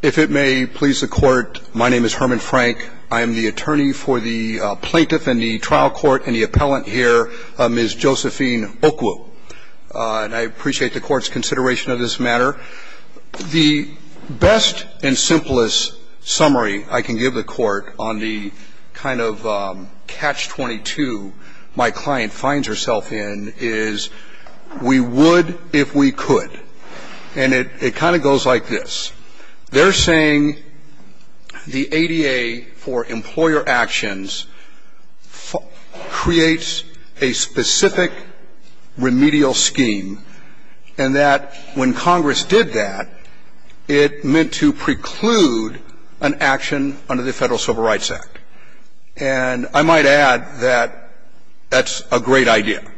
If it may please the court, my name is Herman Frank. I am the attorney for the plaintiff in the trial court and the appellant here, Ms. Josephine Okwu. And I appreciate the court's consideration of this matter. The best and simplest summary I can give the court on the kind of catch-22 my client finds herself in is, we would if we could. And it kind of goes like this. They're saying the ADA for employer actions creates a specific remedial scheme and that when Congress did that, it meant to preclude an action under the Federal Civil Rights Act. And I might add that that's a great idea.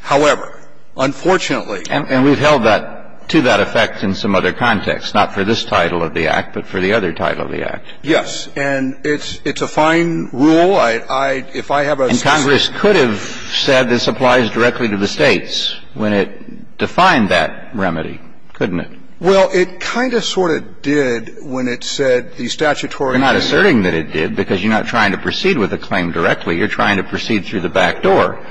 However, unfortunately ---- And we've held that to that effect in some other context, not for this title of the Act, but for the other title of the Act. Yes. And it's a fine rule. I, if I have a ---- And Congress could have said this applies directly to the States when it defined that remedy, couldn't it? Well, it kind of sort of did when it said the statutory ---- Well, you're not asserting that it did because you're not trying to proceed with the claim directly. You're trying to proceed through the back door.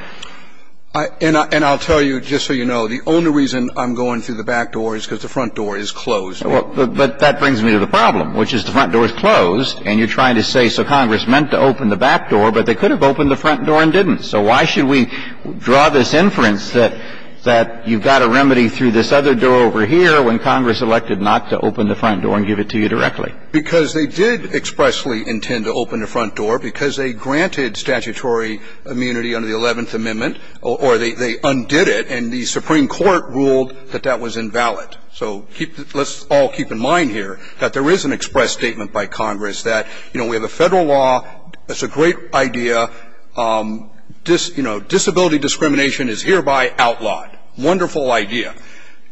And I'll tell you, just so you know, the only reason I'm going through the back door is because the front door is closed. But that brings me to the problem, which is the front door is closed and you're trying to say, so Congress meant to open the back door, but they could have opened the front door and didn't. So why should we draw this inference that you've got a remedy through this other door over here when Congress elected not to open the front door and give it to you directly? Because they did expressly intend to open the front door because they granted statutory immunity under the Eleventh Amendment, or they undid it, and the Supreme Court ruled that that was invalid. So let's all keep in mind here that there is an express statement by Congress that, you know, we have a Federal law. It's a great idea. You know, disability discrimination is hereby outlawed. Wonderful idea.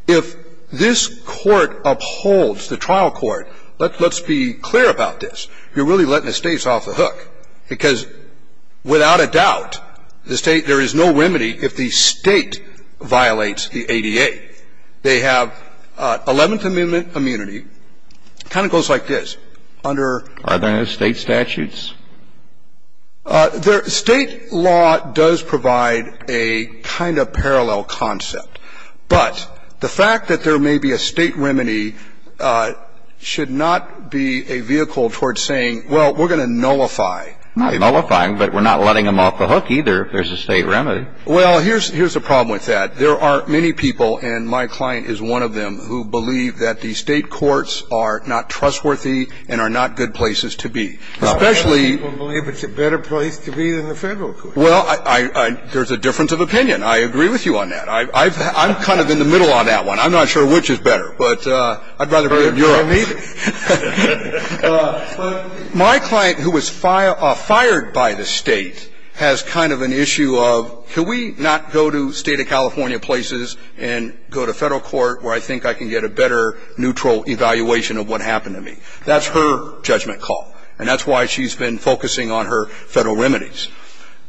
If this Court upholds the trial court, let's be clear about this. You're really letting the States off the hook. Because without a doubt, the State — there is no remedy if the State violates the ADA. They have Eleventh Amendment immunity. It kind of goes like this. Under — Are there no State statutes? State law does provide a kind of parallel concept. But the fact that there may be a State remedy should not be a vehicle towards saying, well, we're going to nullify. Not nullify, but we're not letting them off the hook, either, if there's a State remedy. Well, here's the problem with that. There are many people, and my client is one of them, who believe that the State courts are not trustworthy and are not good places to be. Well, a lot of people believe it's a better place to be than the Federal courts. Well, there's a difference of opinion. I agree with you on that. I'm kind of in the middle on that one. I'm not sure which is better. But I'd rather be in Europe. But my client, who was fired by the State, has kind of an issue of, can we not go to State of California places and go to Federal court where I think I can get a better neutral evaluation of what happened to me? That's her judgment call. And that's why she's been focusing on her Federal remedies.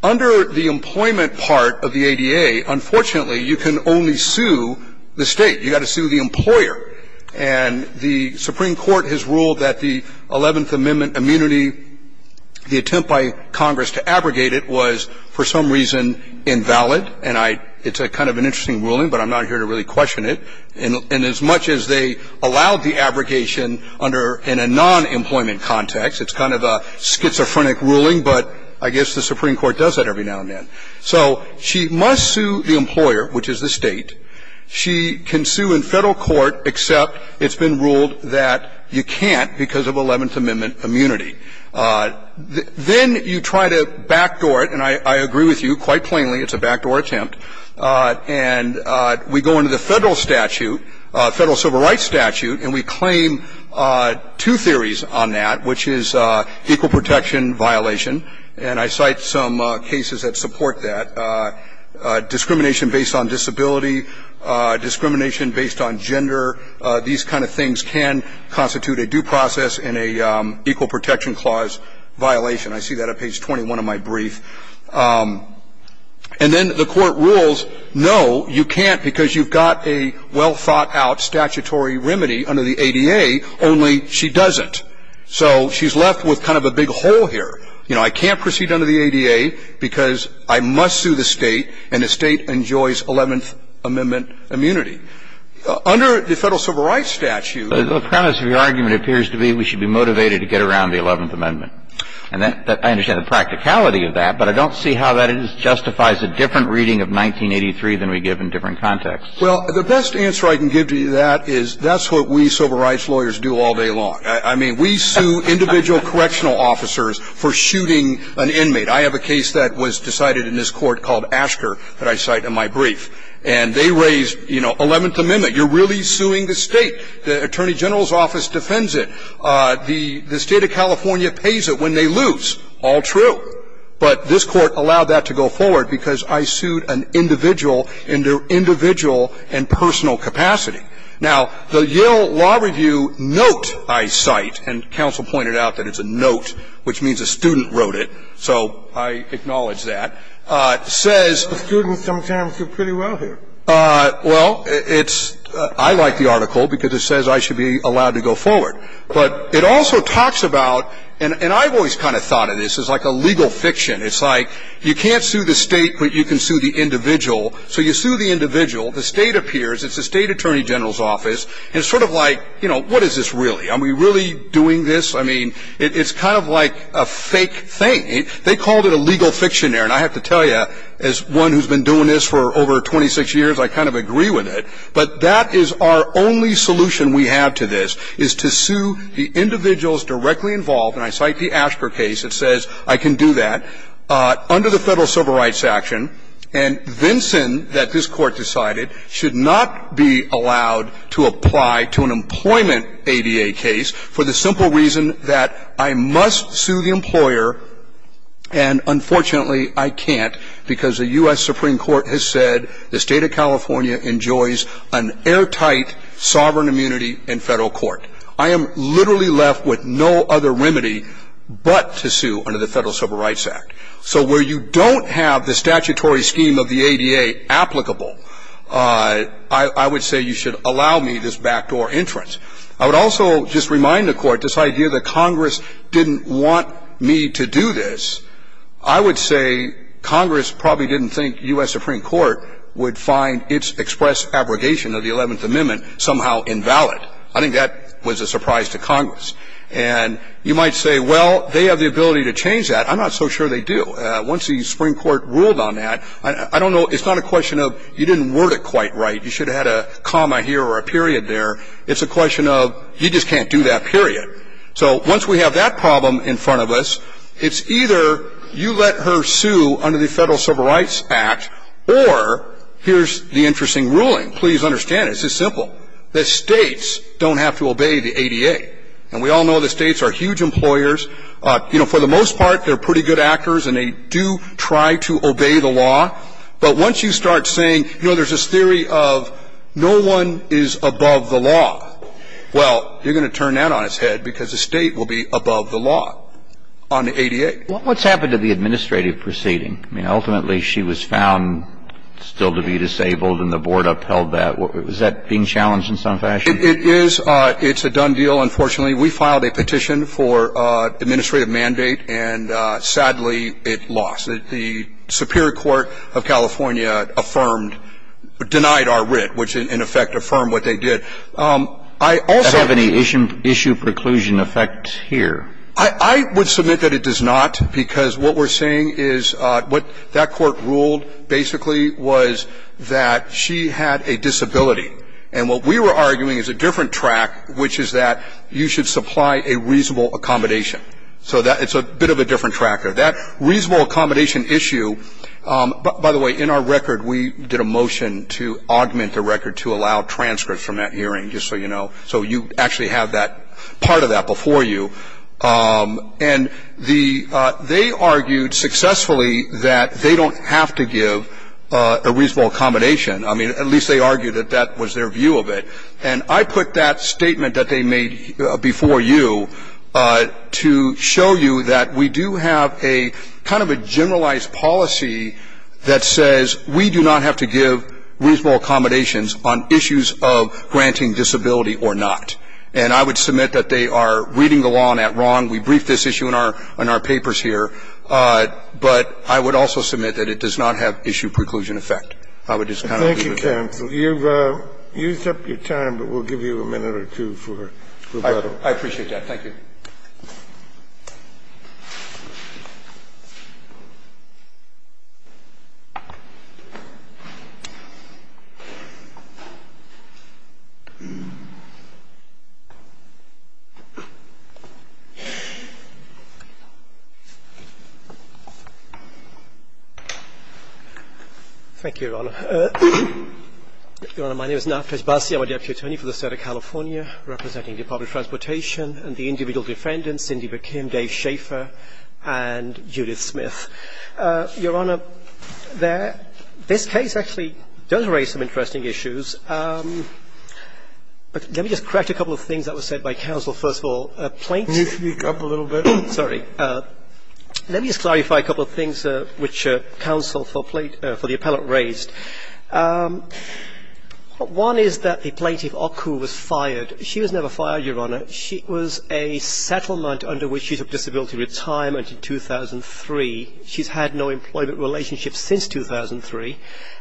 Under the employment part of the ADA, unfortunately, you can only sue the State. You've got to sue the employer. And the Supreme Court has ruled that the Eleventh Amendment immunity, the attempt by Congress to abrogate it, was for some reason invalid. And I – it's kind of an interesting ruling, but I'm not here to really question it. And as much as they allowed the abrogation under – in a non-employment context, it's kind of a schizophrenic ruling, but I guess the Supreme Court does that every now and then. So she must sue the employer, which is the State. She can sue in Federal court, except it's been ruled that you can't because of Eleventh Amendment immunity. Then you try to backdoor it, and I agree with you quite plainly. It's a backdoor attempt. And we go into the Federal statute, Federal civil rights statute, and we claim two theories on that, which is equal protection violation. And I cite some cases that support that. Discrimination based on disability, discrimination based on gender, these kind of things can constitute a due process in an equal protection clause violation. I see that on page 21 of my brief. And then the Court rules, no, you can't because you've got a well-thought-out statutory remedy under the ADA. Only she doesn't. So she's left with kind of a big hole here. You know, I can't proceed under the ADA because I must sue the State, and the State enjoys Eleventh Amendment immunity. Under the Federal civil rights statute – The premise of your argument appears to be we should be motivated to get around the Eleventh Amendment. And I understand the practicality of that, but I don't see how that justifies a different reading of 1983 than we give in different contexts. Well, the best answer I can give to that is that's what we civil rights lawyers do all day long. I mean, we sue individual correctional officers for shooting an inmate. I have a case that was decided in this Court called Asker that I cite in my brief. And they raised, you know, Eleventh Amendment. You're really suing the State. The Attorney General's office defends it. The State of California pays it when they lose. All true. But this Court allowed that to go forward because I sued an individual in their individual and personal capacity. Now, the Yill Law Review note I cite, and counsel pointed out that it's a note, which means a student wrote it, so I acknowledge that, says the students sometimes do pretty well here. Well, it's – I like the article because it says I should be allowed to go forward. But it also talks about – and I've always kind of thought of this as like a legal fiction. It's like you can't sue the State, but you can sue the individual. So you sue the individual. The State appears. It's the State Attorney General's office. And it's sort of like, you know, what is this really? Are we really doing this? I mean, it's kind of like a fake thing. They called it a legal fiction there. And I have to tell you, as one who's been doing this for over 26 years, I kind of agree with it. But that is our only solution we have to this, is to sue the individuals directly involved. And I cite the Asper case. It says I can do that under the Federal Civil Rights Action. And Vinson, that this Court decided, should not be allowed to apply to an employment ADA case for the simple reason that I must sue the employer, and unfortunately, I can't because the U.S. Supreme Court has said the State of California enjoys an airtight sovereign immunity in federal court. I am literally left with no other remedy but to sue under the Federal Civil Rights Act. So where you don't have the statutory scheme of the ADA applicable, I would say you should allow me this backdoor entrance. I would also just remind the Court this idea that Congress didn't want me to do this. I would say Congress probably didn't think U.S. Supreme Court would find its express abrogation of the 11th Amendment somehow invalid. I think that was a surprise to Congress. And you might say, well, they have the ability to change that. I'm not so sure they do. Once the Supreme Court ruled on that, I don't know. It's not a question of you didn't word it quite right. You should have had a comma here or a period there. It's a question of you just can't do that, period. So once we have that problem in front of us, it's either you let her sue under the Federal Civil Rights Act or here's the interesting ruling. Please understand, it's this simple. The states don't have to obey the ADA. And we all know the states are huge employers. You know, for the most part, they're pretty good actors and they do try to obey the law. But once you start saying, you know, there's this theory of no one is above the law, well, you're going to turn that on its head. Because the state will be above the law on the ADA. What's happened to the administrative proceeding? I mean, ultimately, she was found still to be disabled and the board upheld that. Was that being challenged in some fashion? It is. It's a done deal, unfortunately. We filed a petition for administrative mandate, and sadly, it lost. The Superior Court of California affirmed, denied our writ, which in effect affirmed what they did. I also have any issue preclusion effect here. I would submit that it does not, because what we're saying is what that court ruled basically was that she had a disability. And what we were arguing is a different track, which is that you should supply a reasonable accommodation. So that's a bit of a different tracker. That reasonable accommodation issue, by the way, in our record, we did a motion to augment the record to allow transcripts from that hearing, just so you know. So you actually have that part of that before you. And they argued successfully that they don't have to give a reasonable accommodation. I mean, at least they argued that that was their view of it. And I put that statement that they made before you to show you that we do have a kind of a generalized policy that says, we do not have to give reasonable accommodations on issues of granting disability or not. And I would submit that they are reading the law on that wrong. We briefed this issue in our papers here. But I would also submit that it does not have issue preclusion effect. I would just kind of leave it there. Kennedy, you've used up your time, but we'll give you a minute or two for rebuttal. I appreciate that. Thank you. Thank you, Your Honor. Your Honor, my name is Naftaz Bassi. I'm a deputy attorney for the State of California representing the Department of Transportation and the individual defendants, Cindy McKim, Dave Schaefer, and Judith Smith. Your Honor, this case actually does raise some interesting issues. But let me just correct a couple of things that were said by counsel. First of all, plaintiffs need to speak up a little bit. Sorry. Let me just clarify a couple of things which counsel for the appellate raised. One is that the plaintiff, Oku, was fired. She was never fired, Your Honor. She was a settlement under which she took disability retirement in 2003. She's had no employment relationship since 2003.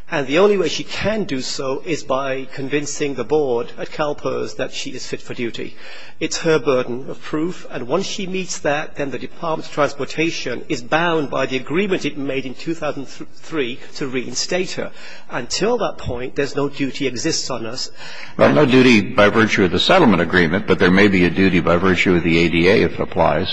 And the only way she can do so is by convincing the board at CalPERS that she is fit for duty. It's her burden of proof. And once she meets that, then the Department of Transportation is bound by the agreement it made in 2003 to reinstate her. Until that point, there's no duty exists on us. Well, no duty by virtue of the settlement agreement, but there may be a duty by virtue of the ADA if it applies.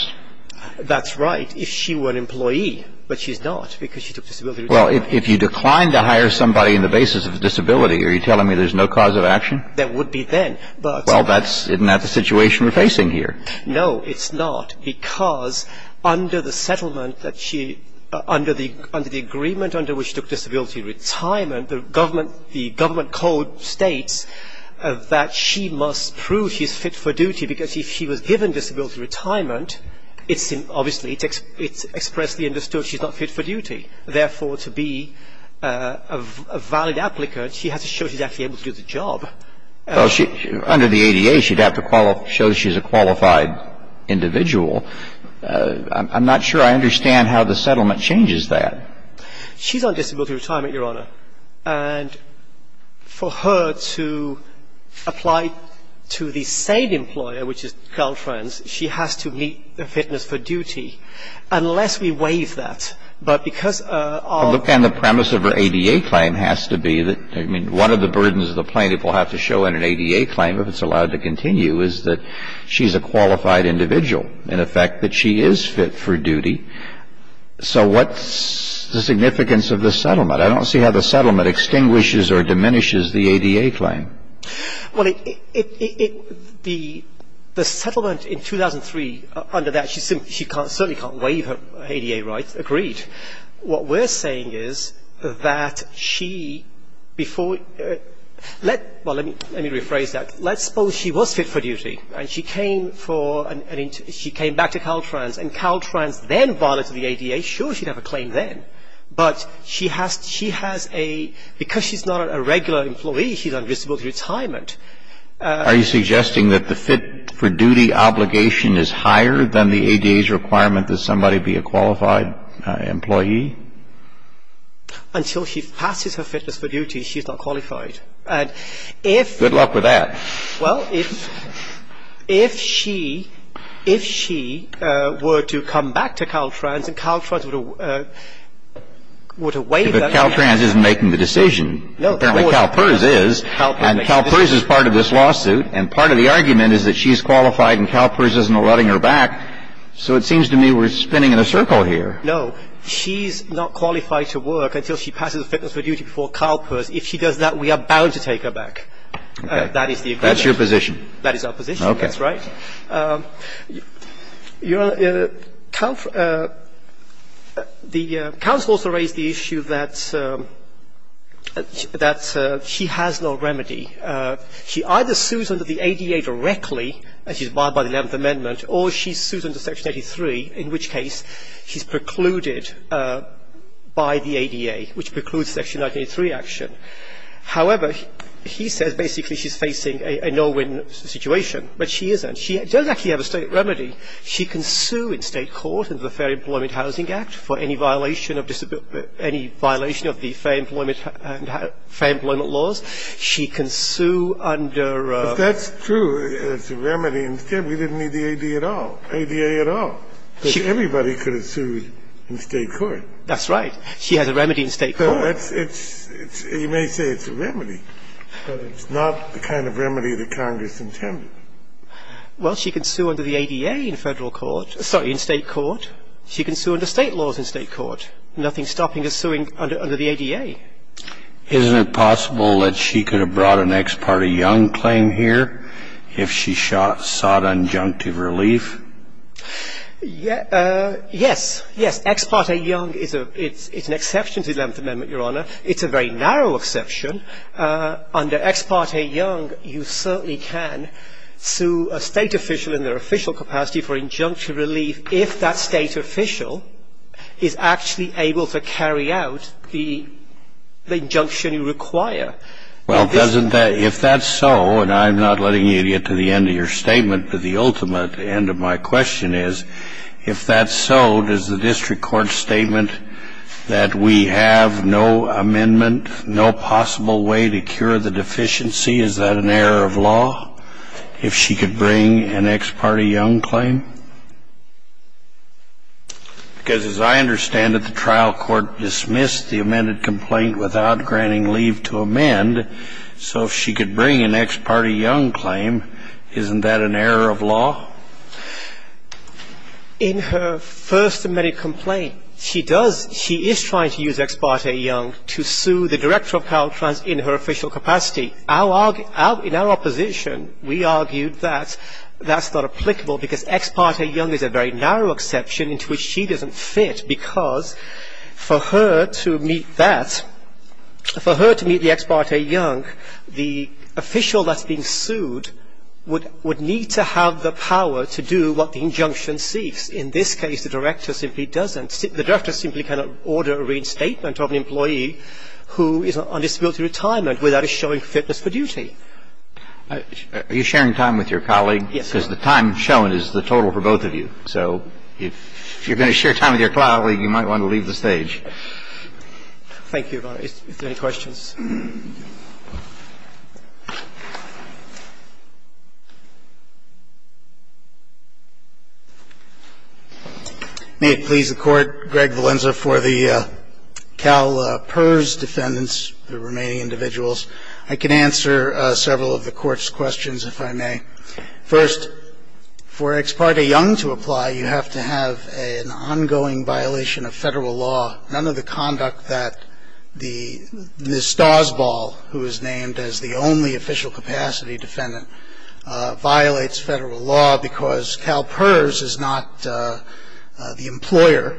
That's right, if she were an employee. But she's not because she took disability retirement. Well, if you decline to hire somebody on the basis of disability, are you telling me there's no cause of action? There would be then. Well, isn't that the situation we're facing here? No, it's not, because under the settlement that she, under the agreement under which she took disability retirement, the government code states that she must prove she's fit for duty, because if she was given disability retirement, it's obviously, it's expressly understood she's not fit for duty. Therefore, to be a valid applicant, she has to show she's actually able to do the job. Well, under the ADA, she'd have to show she's a qualified individual. I'm not sure I understand how the settlement changes that. She's on disability retirement, Your Honor. And for her to apply to the same employer, which is Caltrans, she has to meet her fitness for duty, unless we waive that. But because our ---- Well, again, the premise of her ADA claim has to be that, I mean, one of the burdens of the plaintiff will have to show in an ADA claim if it's allowed to continue, is that she's a qualified individual. In effect, that she is fit for duty. So what's the significance of the settlement? I don't see how the settlement extinguishes or diminishes the ADA claim. Well, it, it, it, the, the settlement in 2003, under that, she certainly can't waive her ADA rights. Agreed. What we're saying is that she, before, let, well, let me, let me rephrase that. Let's suppose she was fit for duty. And she came for an, she came back to Caltrans. And Caltrans then violated the ADA. Sure, she'd have a claim then. But she has, she has a, because she's not a regular employee, she's on disability retirement. Are you suggesting that the fit for duty obligation is higher than the ADA's requirement that somebody be a qualified employee? Until she passes her fitness for duty, she's not qualified. And if. Good luck with that. Well, if, if she, if she were to come back to Caltrans and Caltrans would have, would have waived that. But Caltrans isn't making the decision. Apparently CalPERS is. And CalPERS is part of this lawsuit. And part of the argument is that she's qualified and CalPERS isn't letting her back. So it seems to me we're spinning in a circle here. No. She's not qualified to work until she passes fitness for duty before CalPERS. If she does that, we are bound to take her back. That is the agreement. That's your position. That is our position. That's right. Your Honor, the counsel also raised the issue that, that she has no remedy. She either sues under the ADA directly, as she's barred by the Eleventh Amendment, or she sues under Section 83, in which case she's precluded by the ADA, which precludes Section 83 action. However, he says basically she's facing a no-win situation. But she isn't. She does actually have a state remedy. She can sue in state court under the Fair Employment Housing Act for any violation of disability or any violation of the fair employment laws. She can sue under. But that's true. It's a remedy. Instead, we didn't need the ADA at all. ADA at all. Because everybody could have sued in state court. That's right. She has a remedy in state court. You may say it's a remedy, but it's not the kind of remedy that Congress intended. Well, she can sue under the ADA in federal court. Sorry, in state court. She can sue under state laws in state court. Nothing's stopping her suing under the ADA. Isn't it possible that she could have brought an Ex parte Young claim here if she sought unjunctive relief? Yes. Yes. Ex parte Young is an exception to the Eleventh Amendment, Your Honor. It's a very narrow exception. Under Ex parte Young, you certainly can sue a state official in their official capacity for injunctive relief if that state official is actually able to carry out the injunction you require. Well, doesn't that ‑‑ if that's so, and I'm not letting you get to the end of your statement, but the ultimate end of my question is, if that's so, does the district court's statement that we have no amendment, no possible way to cure the deficiency, is that an error of law, if she could bring an Ex parte Young claim? Because as I understand it, the trial court dismissed the amended complaint without granting leave to amend. So if she could bring an Ex parte Young claim, isn't that an error of law? In her first amended complaint, she does ‑‑ she is trying to use Ex parte Young to sue the director of Caltrans in her official capacity. In our opposition, we argued that that's not applicable because Ex parte Young is a very narrow exception into which she doesn't fit because for her to meet that, for her to meet the Ex parte Young, the official that's being sued would need to have the power to do what the injunction seeks. In this case, the director simply doesn't. The director simply cannot order a reinstatement of an employee who is on disability retirement without a showing of fitness for duty. Are you sharing time with your colleague? Yes, I am. Because the time shown is the total for both of you. So if you're going to share time with your colleague, you might want to leave the stage. Thank you, Your Honor. If there are any questions. May it please the Court, Greg Valenza for the CalPERS defendants, the remaining individuals. I can answer several of the Court's questions, if I may. First, for Ex parte Young to apply, you have to have an ongoing violation of Federal law. None of the conduct that Ms. Stasbaugh, who is named as the only official capacity defendant, violates Federal law because CalPERS is not the employer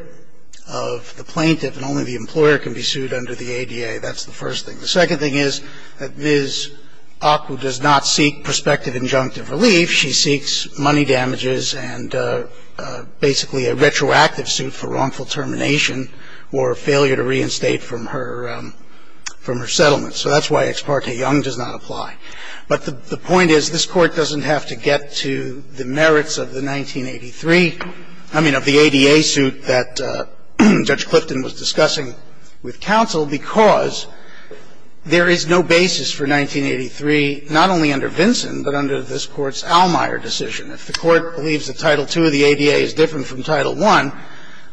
of the plaintiff, and only the employer can be sued under the ADA. That's the first thing. The second thing is that Ms. Acu does not seek prospective injunctive relief. She seeks money damages and basically a retroactive suit for wrongful termination or failure to reinstate from her settlement. So that's why Ex parte Young does not apply. But the point is this Court doesn't have to get to the merits of the 1983, I mean, of the ADA suit that Judge Clifton was discussing with counsel because there is no basis for 1983 not only under Vinson, but under this Court's Allmeyer decision. If the Court believes that Title II of the ADA is different from Title I,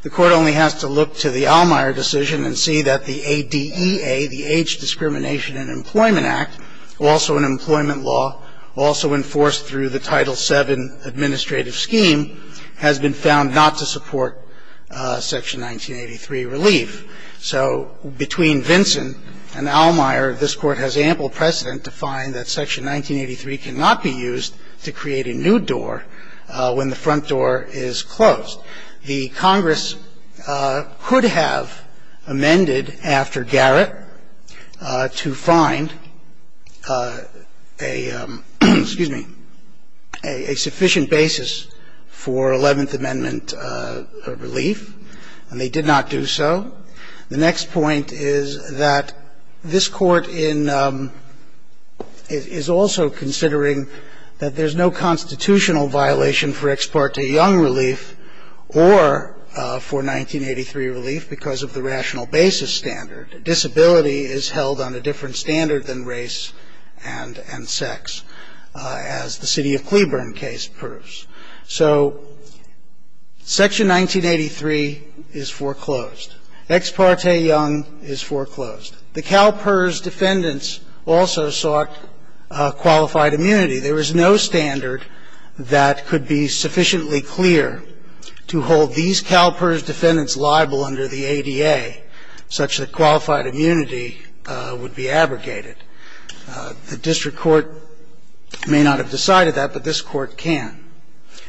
the Court only has to look to the Allmeyer decision and see that the ADEA, the Age Discrimination and Employment Act, also an employment law, also enforced through the Title VII administrative scheme, has been found not to support Section 1983 relief. So between Vinson and Allmeyer, this Court has ample precedent to find that Section 1983 cannot be used to create a new door when the front door is closed. The Congress could have amended after Garrett to find a sufficient basis for Eleventh Amendment relief, and they did not do so. The next point is that this Court is also considering that there's no constitutional violation for Ex parte Young relief or for 1983 relief because of the rational basis standard. Disability is held on a different standard than race and sex, as the City of Cleburne case proves. So Section 1983 is foreclosed. Ex parte Young is foreclosed. The CalPERS defendants also sought qualified immunity. There is no standard that could be sufficiently clear to hold these CalPERS defendants liable under the ADA, such that qualified immunity would be abrogated. The district court may not have decided that, but this Court can.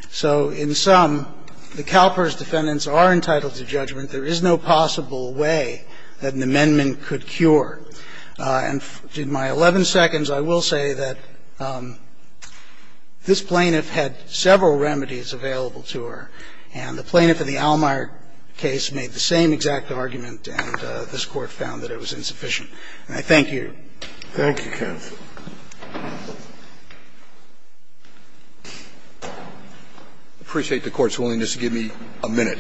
So in sum, the CalPERS defendants are entitled to judgment. There is no possible way that an amendment could cure. And in my 11 seconds I will say that this plaintiff had several remedies available to her, and the plaintiff in the Allmeyer case made the same exact argument, and this Court found that it was insufficient. And I thank you. Thank you, counsel. I appreciate the Court's willingness to give me a minute,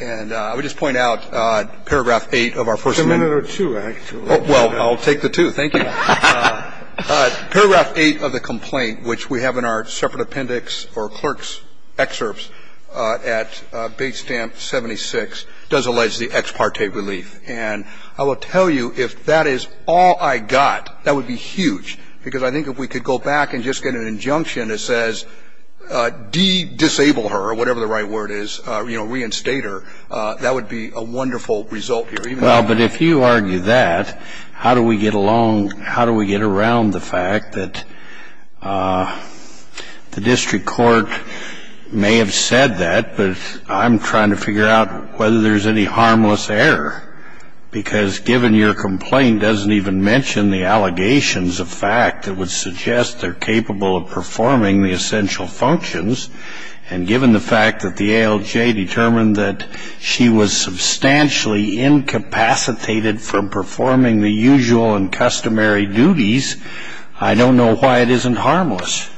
and I would just point out paragraph 8 of our first minute. It's a minute or two, actually. Well, I'll take the two. Thank you. Paragraph 8 of the complaint, which we have in our separate appendix or clerk's excerpts at base stamp 76, does allege the ex parte relief. And I will tell you, if that is all I got, that would be huge, because I think if we could go back and just get an injunction that says, de-disable her, or whatever the right word is, you know, reinstate her, that would be a wonderful result here. Well, but if you argue that, how do we get along, how do we get around the fact that the district court may have said that, but I'm trying to figure out whether there's any harmless error? Because given your complaint doesn't even mention the allegations of fact that would suggest they're capable of performing the essential functions, and given the fact that the ALJ determined that she was substantially incapacitated from performing the usual and customary duties, I don't know why it isn't harmless.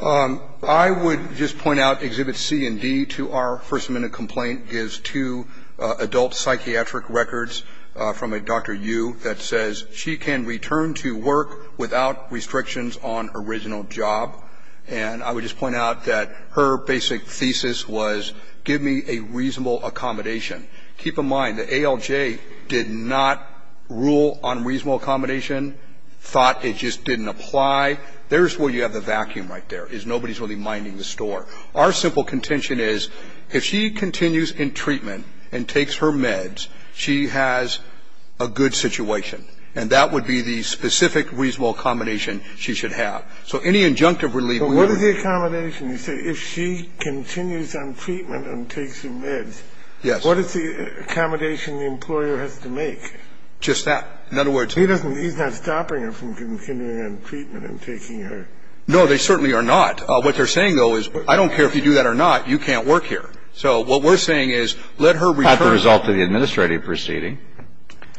I would just point out Exhibit C and D to our first-minute complaint gives two adult psychiatric records from a Dr. Yu that says she can return to work without restrictions on original job. And I would just point out that her basic thesis was, give me a reasonable accommodation. Keep in mind, the ALJ did not rule on reasonable accommodation, thought it just didn't apply. There's where you have the vacuum right there, is nobody's really minding the store. Our simple contention is, if she continues in treatment and takes her meds, she has a good situation. And that would be the specific reasonable accommodation she should have. So any injunctive relief we have to... But what is the accommodation? You say, if she continues on treatment and takes her meds. Yes. What is the accommodation the employer has to make? Just that. In other words... He's not stopping her from continuing on treatment and taking her... No, they certainly are not. What they're saying, though, is, I don't care if you do that or not, you can't work here. So what we're saying is, let her return... Not the result of the administrative proceeding.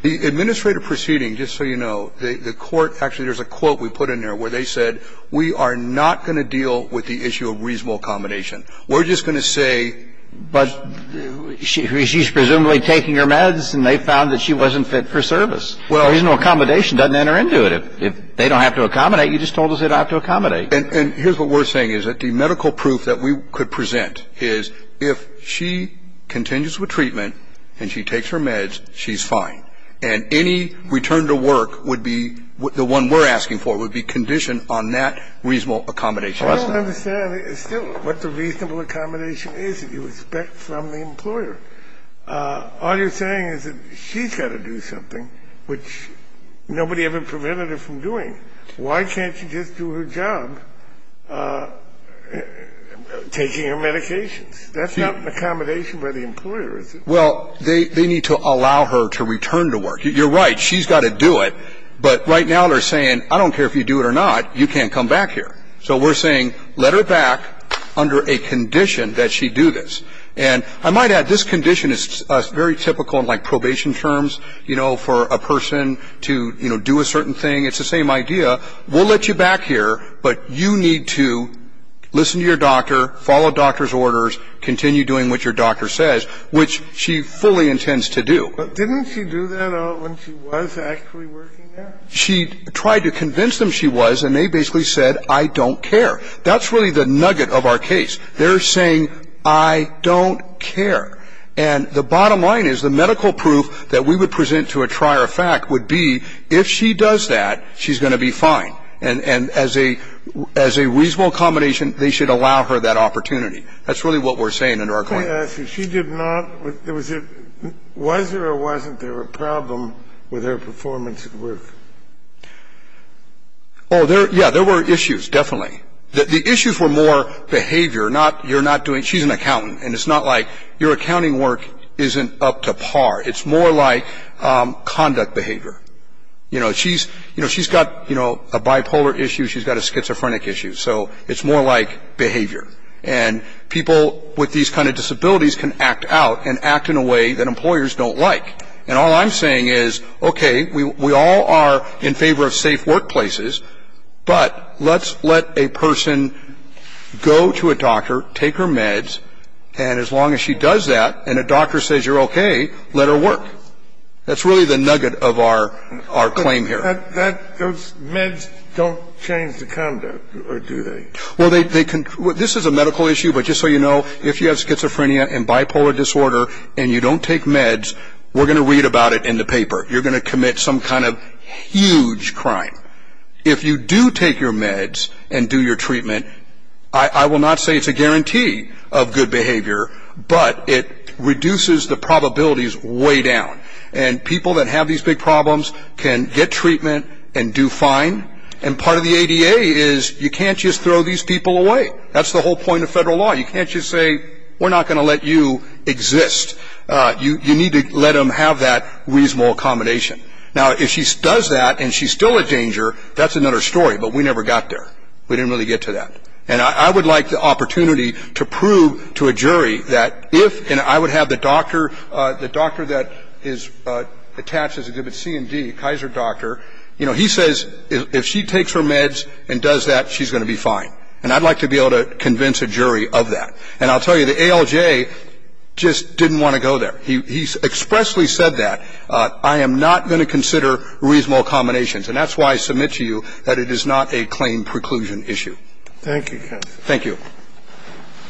The administrative proceeding, just so you know, the court actually, there's a quote we put in there where they said, we are not going to deal with the issue of reasonable accommodation. We're just going to say... But she's presumably taking her meds and they found that she wasn't fit for service. Reasonable accommodation doesn't enter into it. If they don't have to accommodate, you just told us they don't have to accommodate. And here's what we're saying, is that the medical proof that we could present is, if she continues with treatment and she takes her meds, she's fine. And any return to work would be, the one we're asking for, would be conditioned on that reasonable accommodation. I don't understand still what the reasonable accommodation is that you expect from the employer. All you're saying is that she's got to do something which nobody ever prevented her from doing. Why can't she just do her job taking her medications? That's not an accommodation by the employer, is it? Well, they need to allow her to return to work. You're right. She's got to do it. But right now they're saying, I don't care if you do it or not, you can't come back here. So we're saying, let her back under a condition that she do this. And I might add, this condition is very typical in like probation terms, you know, for a person to, you know, do a certain thing. It's the same idea. We'll let you back here, but you need to listen to your doctor, follow doctor's orders, continue doing what your doctor says, which she fully intends to do. But didn't she do that when she was actually working there? She tried to convince them she was, and they basically said, I don't care. That's really the nugget of our case. They're saying, I don't care. And the bottom line is, the medical proof that we would present to a trier of fact would be, if she does that, she's going to be fine. And as a reasonable accommodation, they should allow her that opportunity. That's really what we're saying under our claim. Let me ask you. She did not. Was there or wasn't there a problem with her performance at work? Oh, yeah. There were issues, definitely. The issues were more behavior, not you're not doing, she's an accountant, and it's not like your accounting work isn't up to par. It's more like conduct behavior. You know, she's got a bipolar issue, she's got a schizophrenic issue, so it's more like behavior. And people with these kind of disabilities can act out and act in a way that employers don't like. And all I'm saying is, okay, we all are in favor of safe workplaces, but let's let a person go to a doctor, take her meds, and as long as she does that and a doctor says you're okay, let her work. That's really the nugget of our claim here. Those meds don't change the conduct, do they? Well, they can. This is a medical issue, but just so you know, if you have schizophrenia and bipolar disorder and you don't take meds, we're going to read about it in the paper. You're going to commit some kind of huge crime. If you do take your meds and do your treatment, I will not say it's a guarantee of good behavior, but it reduces the probabilities way down. And people that have these big problems can get treatment and do fine, and part of the ADA is you can't just throw these people away. That's the whole point of federal law. You can't just say we're not going to let you exist. You need to let them have that reasonable accommodation. Now, if she does that and she's still in danger, that's another story, but we never got there. We didn't really get to that. And I would like the opportunity to prove to a jury that if and I would have the doctor that is attached as a C and D, Kaiser doctor, you know, he says if she takes her meds and does that, she's going to be fine, and I'd like to be able to convince a jury of that. And I'll tell you, the ALJ just didn't want to go there. He expressly said that. I am not going to consider reasonable accommodations, and that's why I submit to you that it is not a claim preclusion issue. Thank you, counsel. Thank you.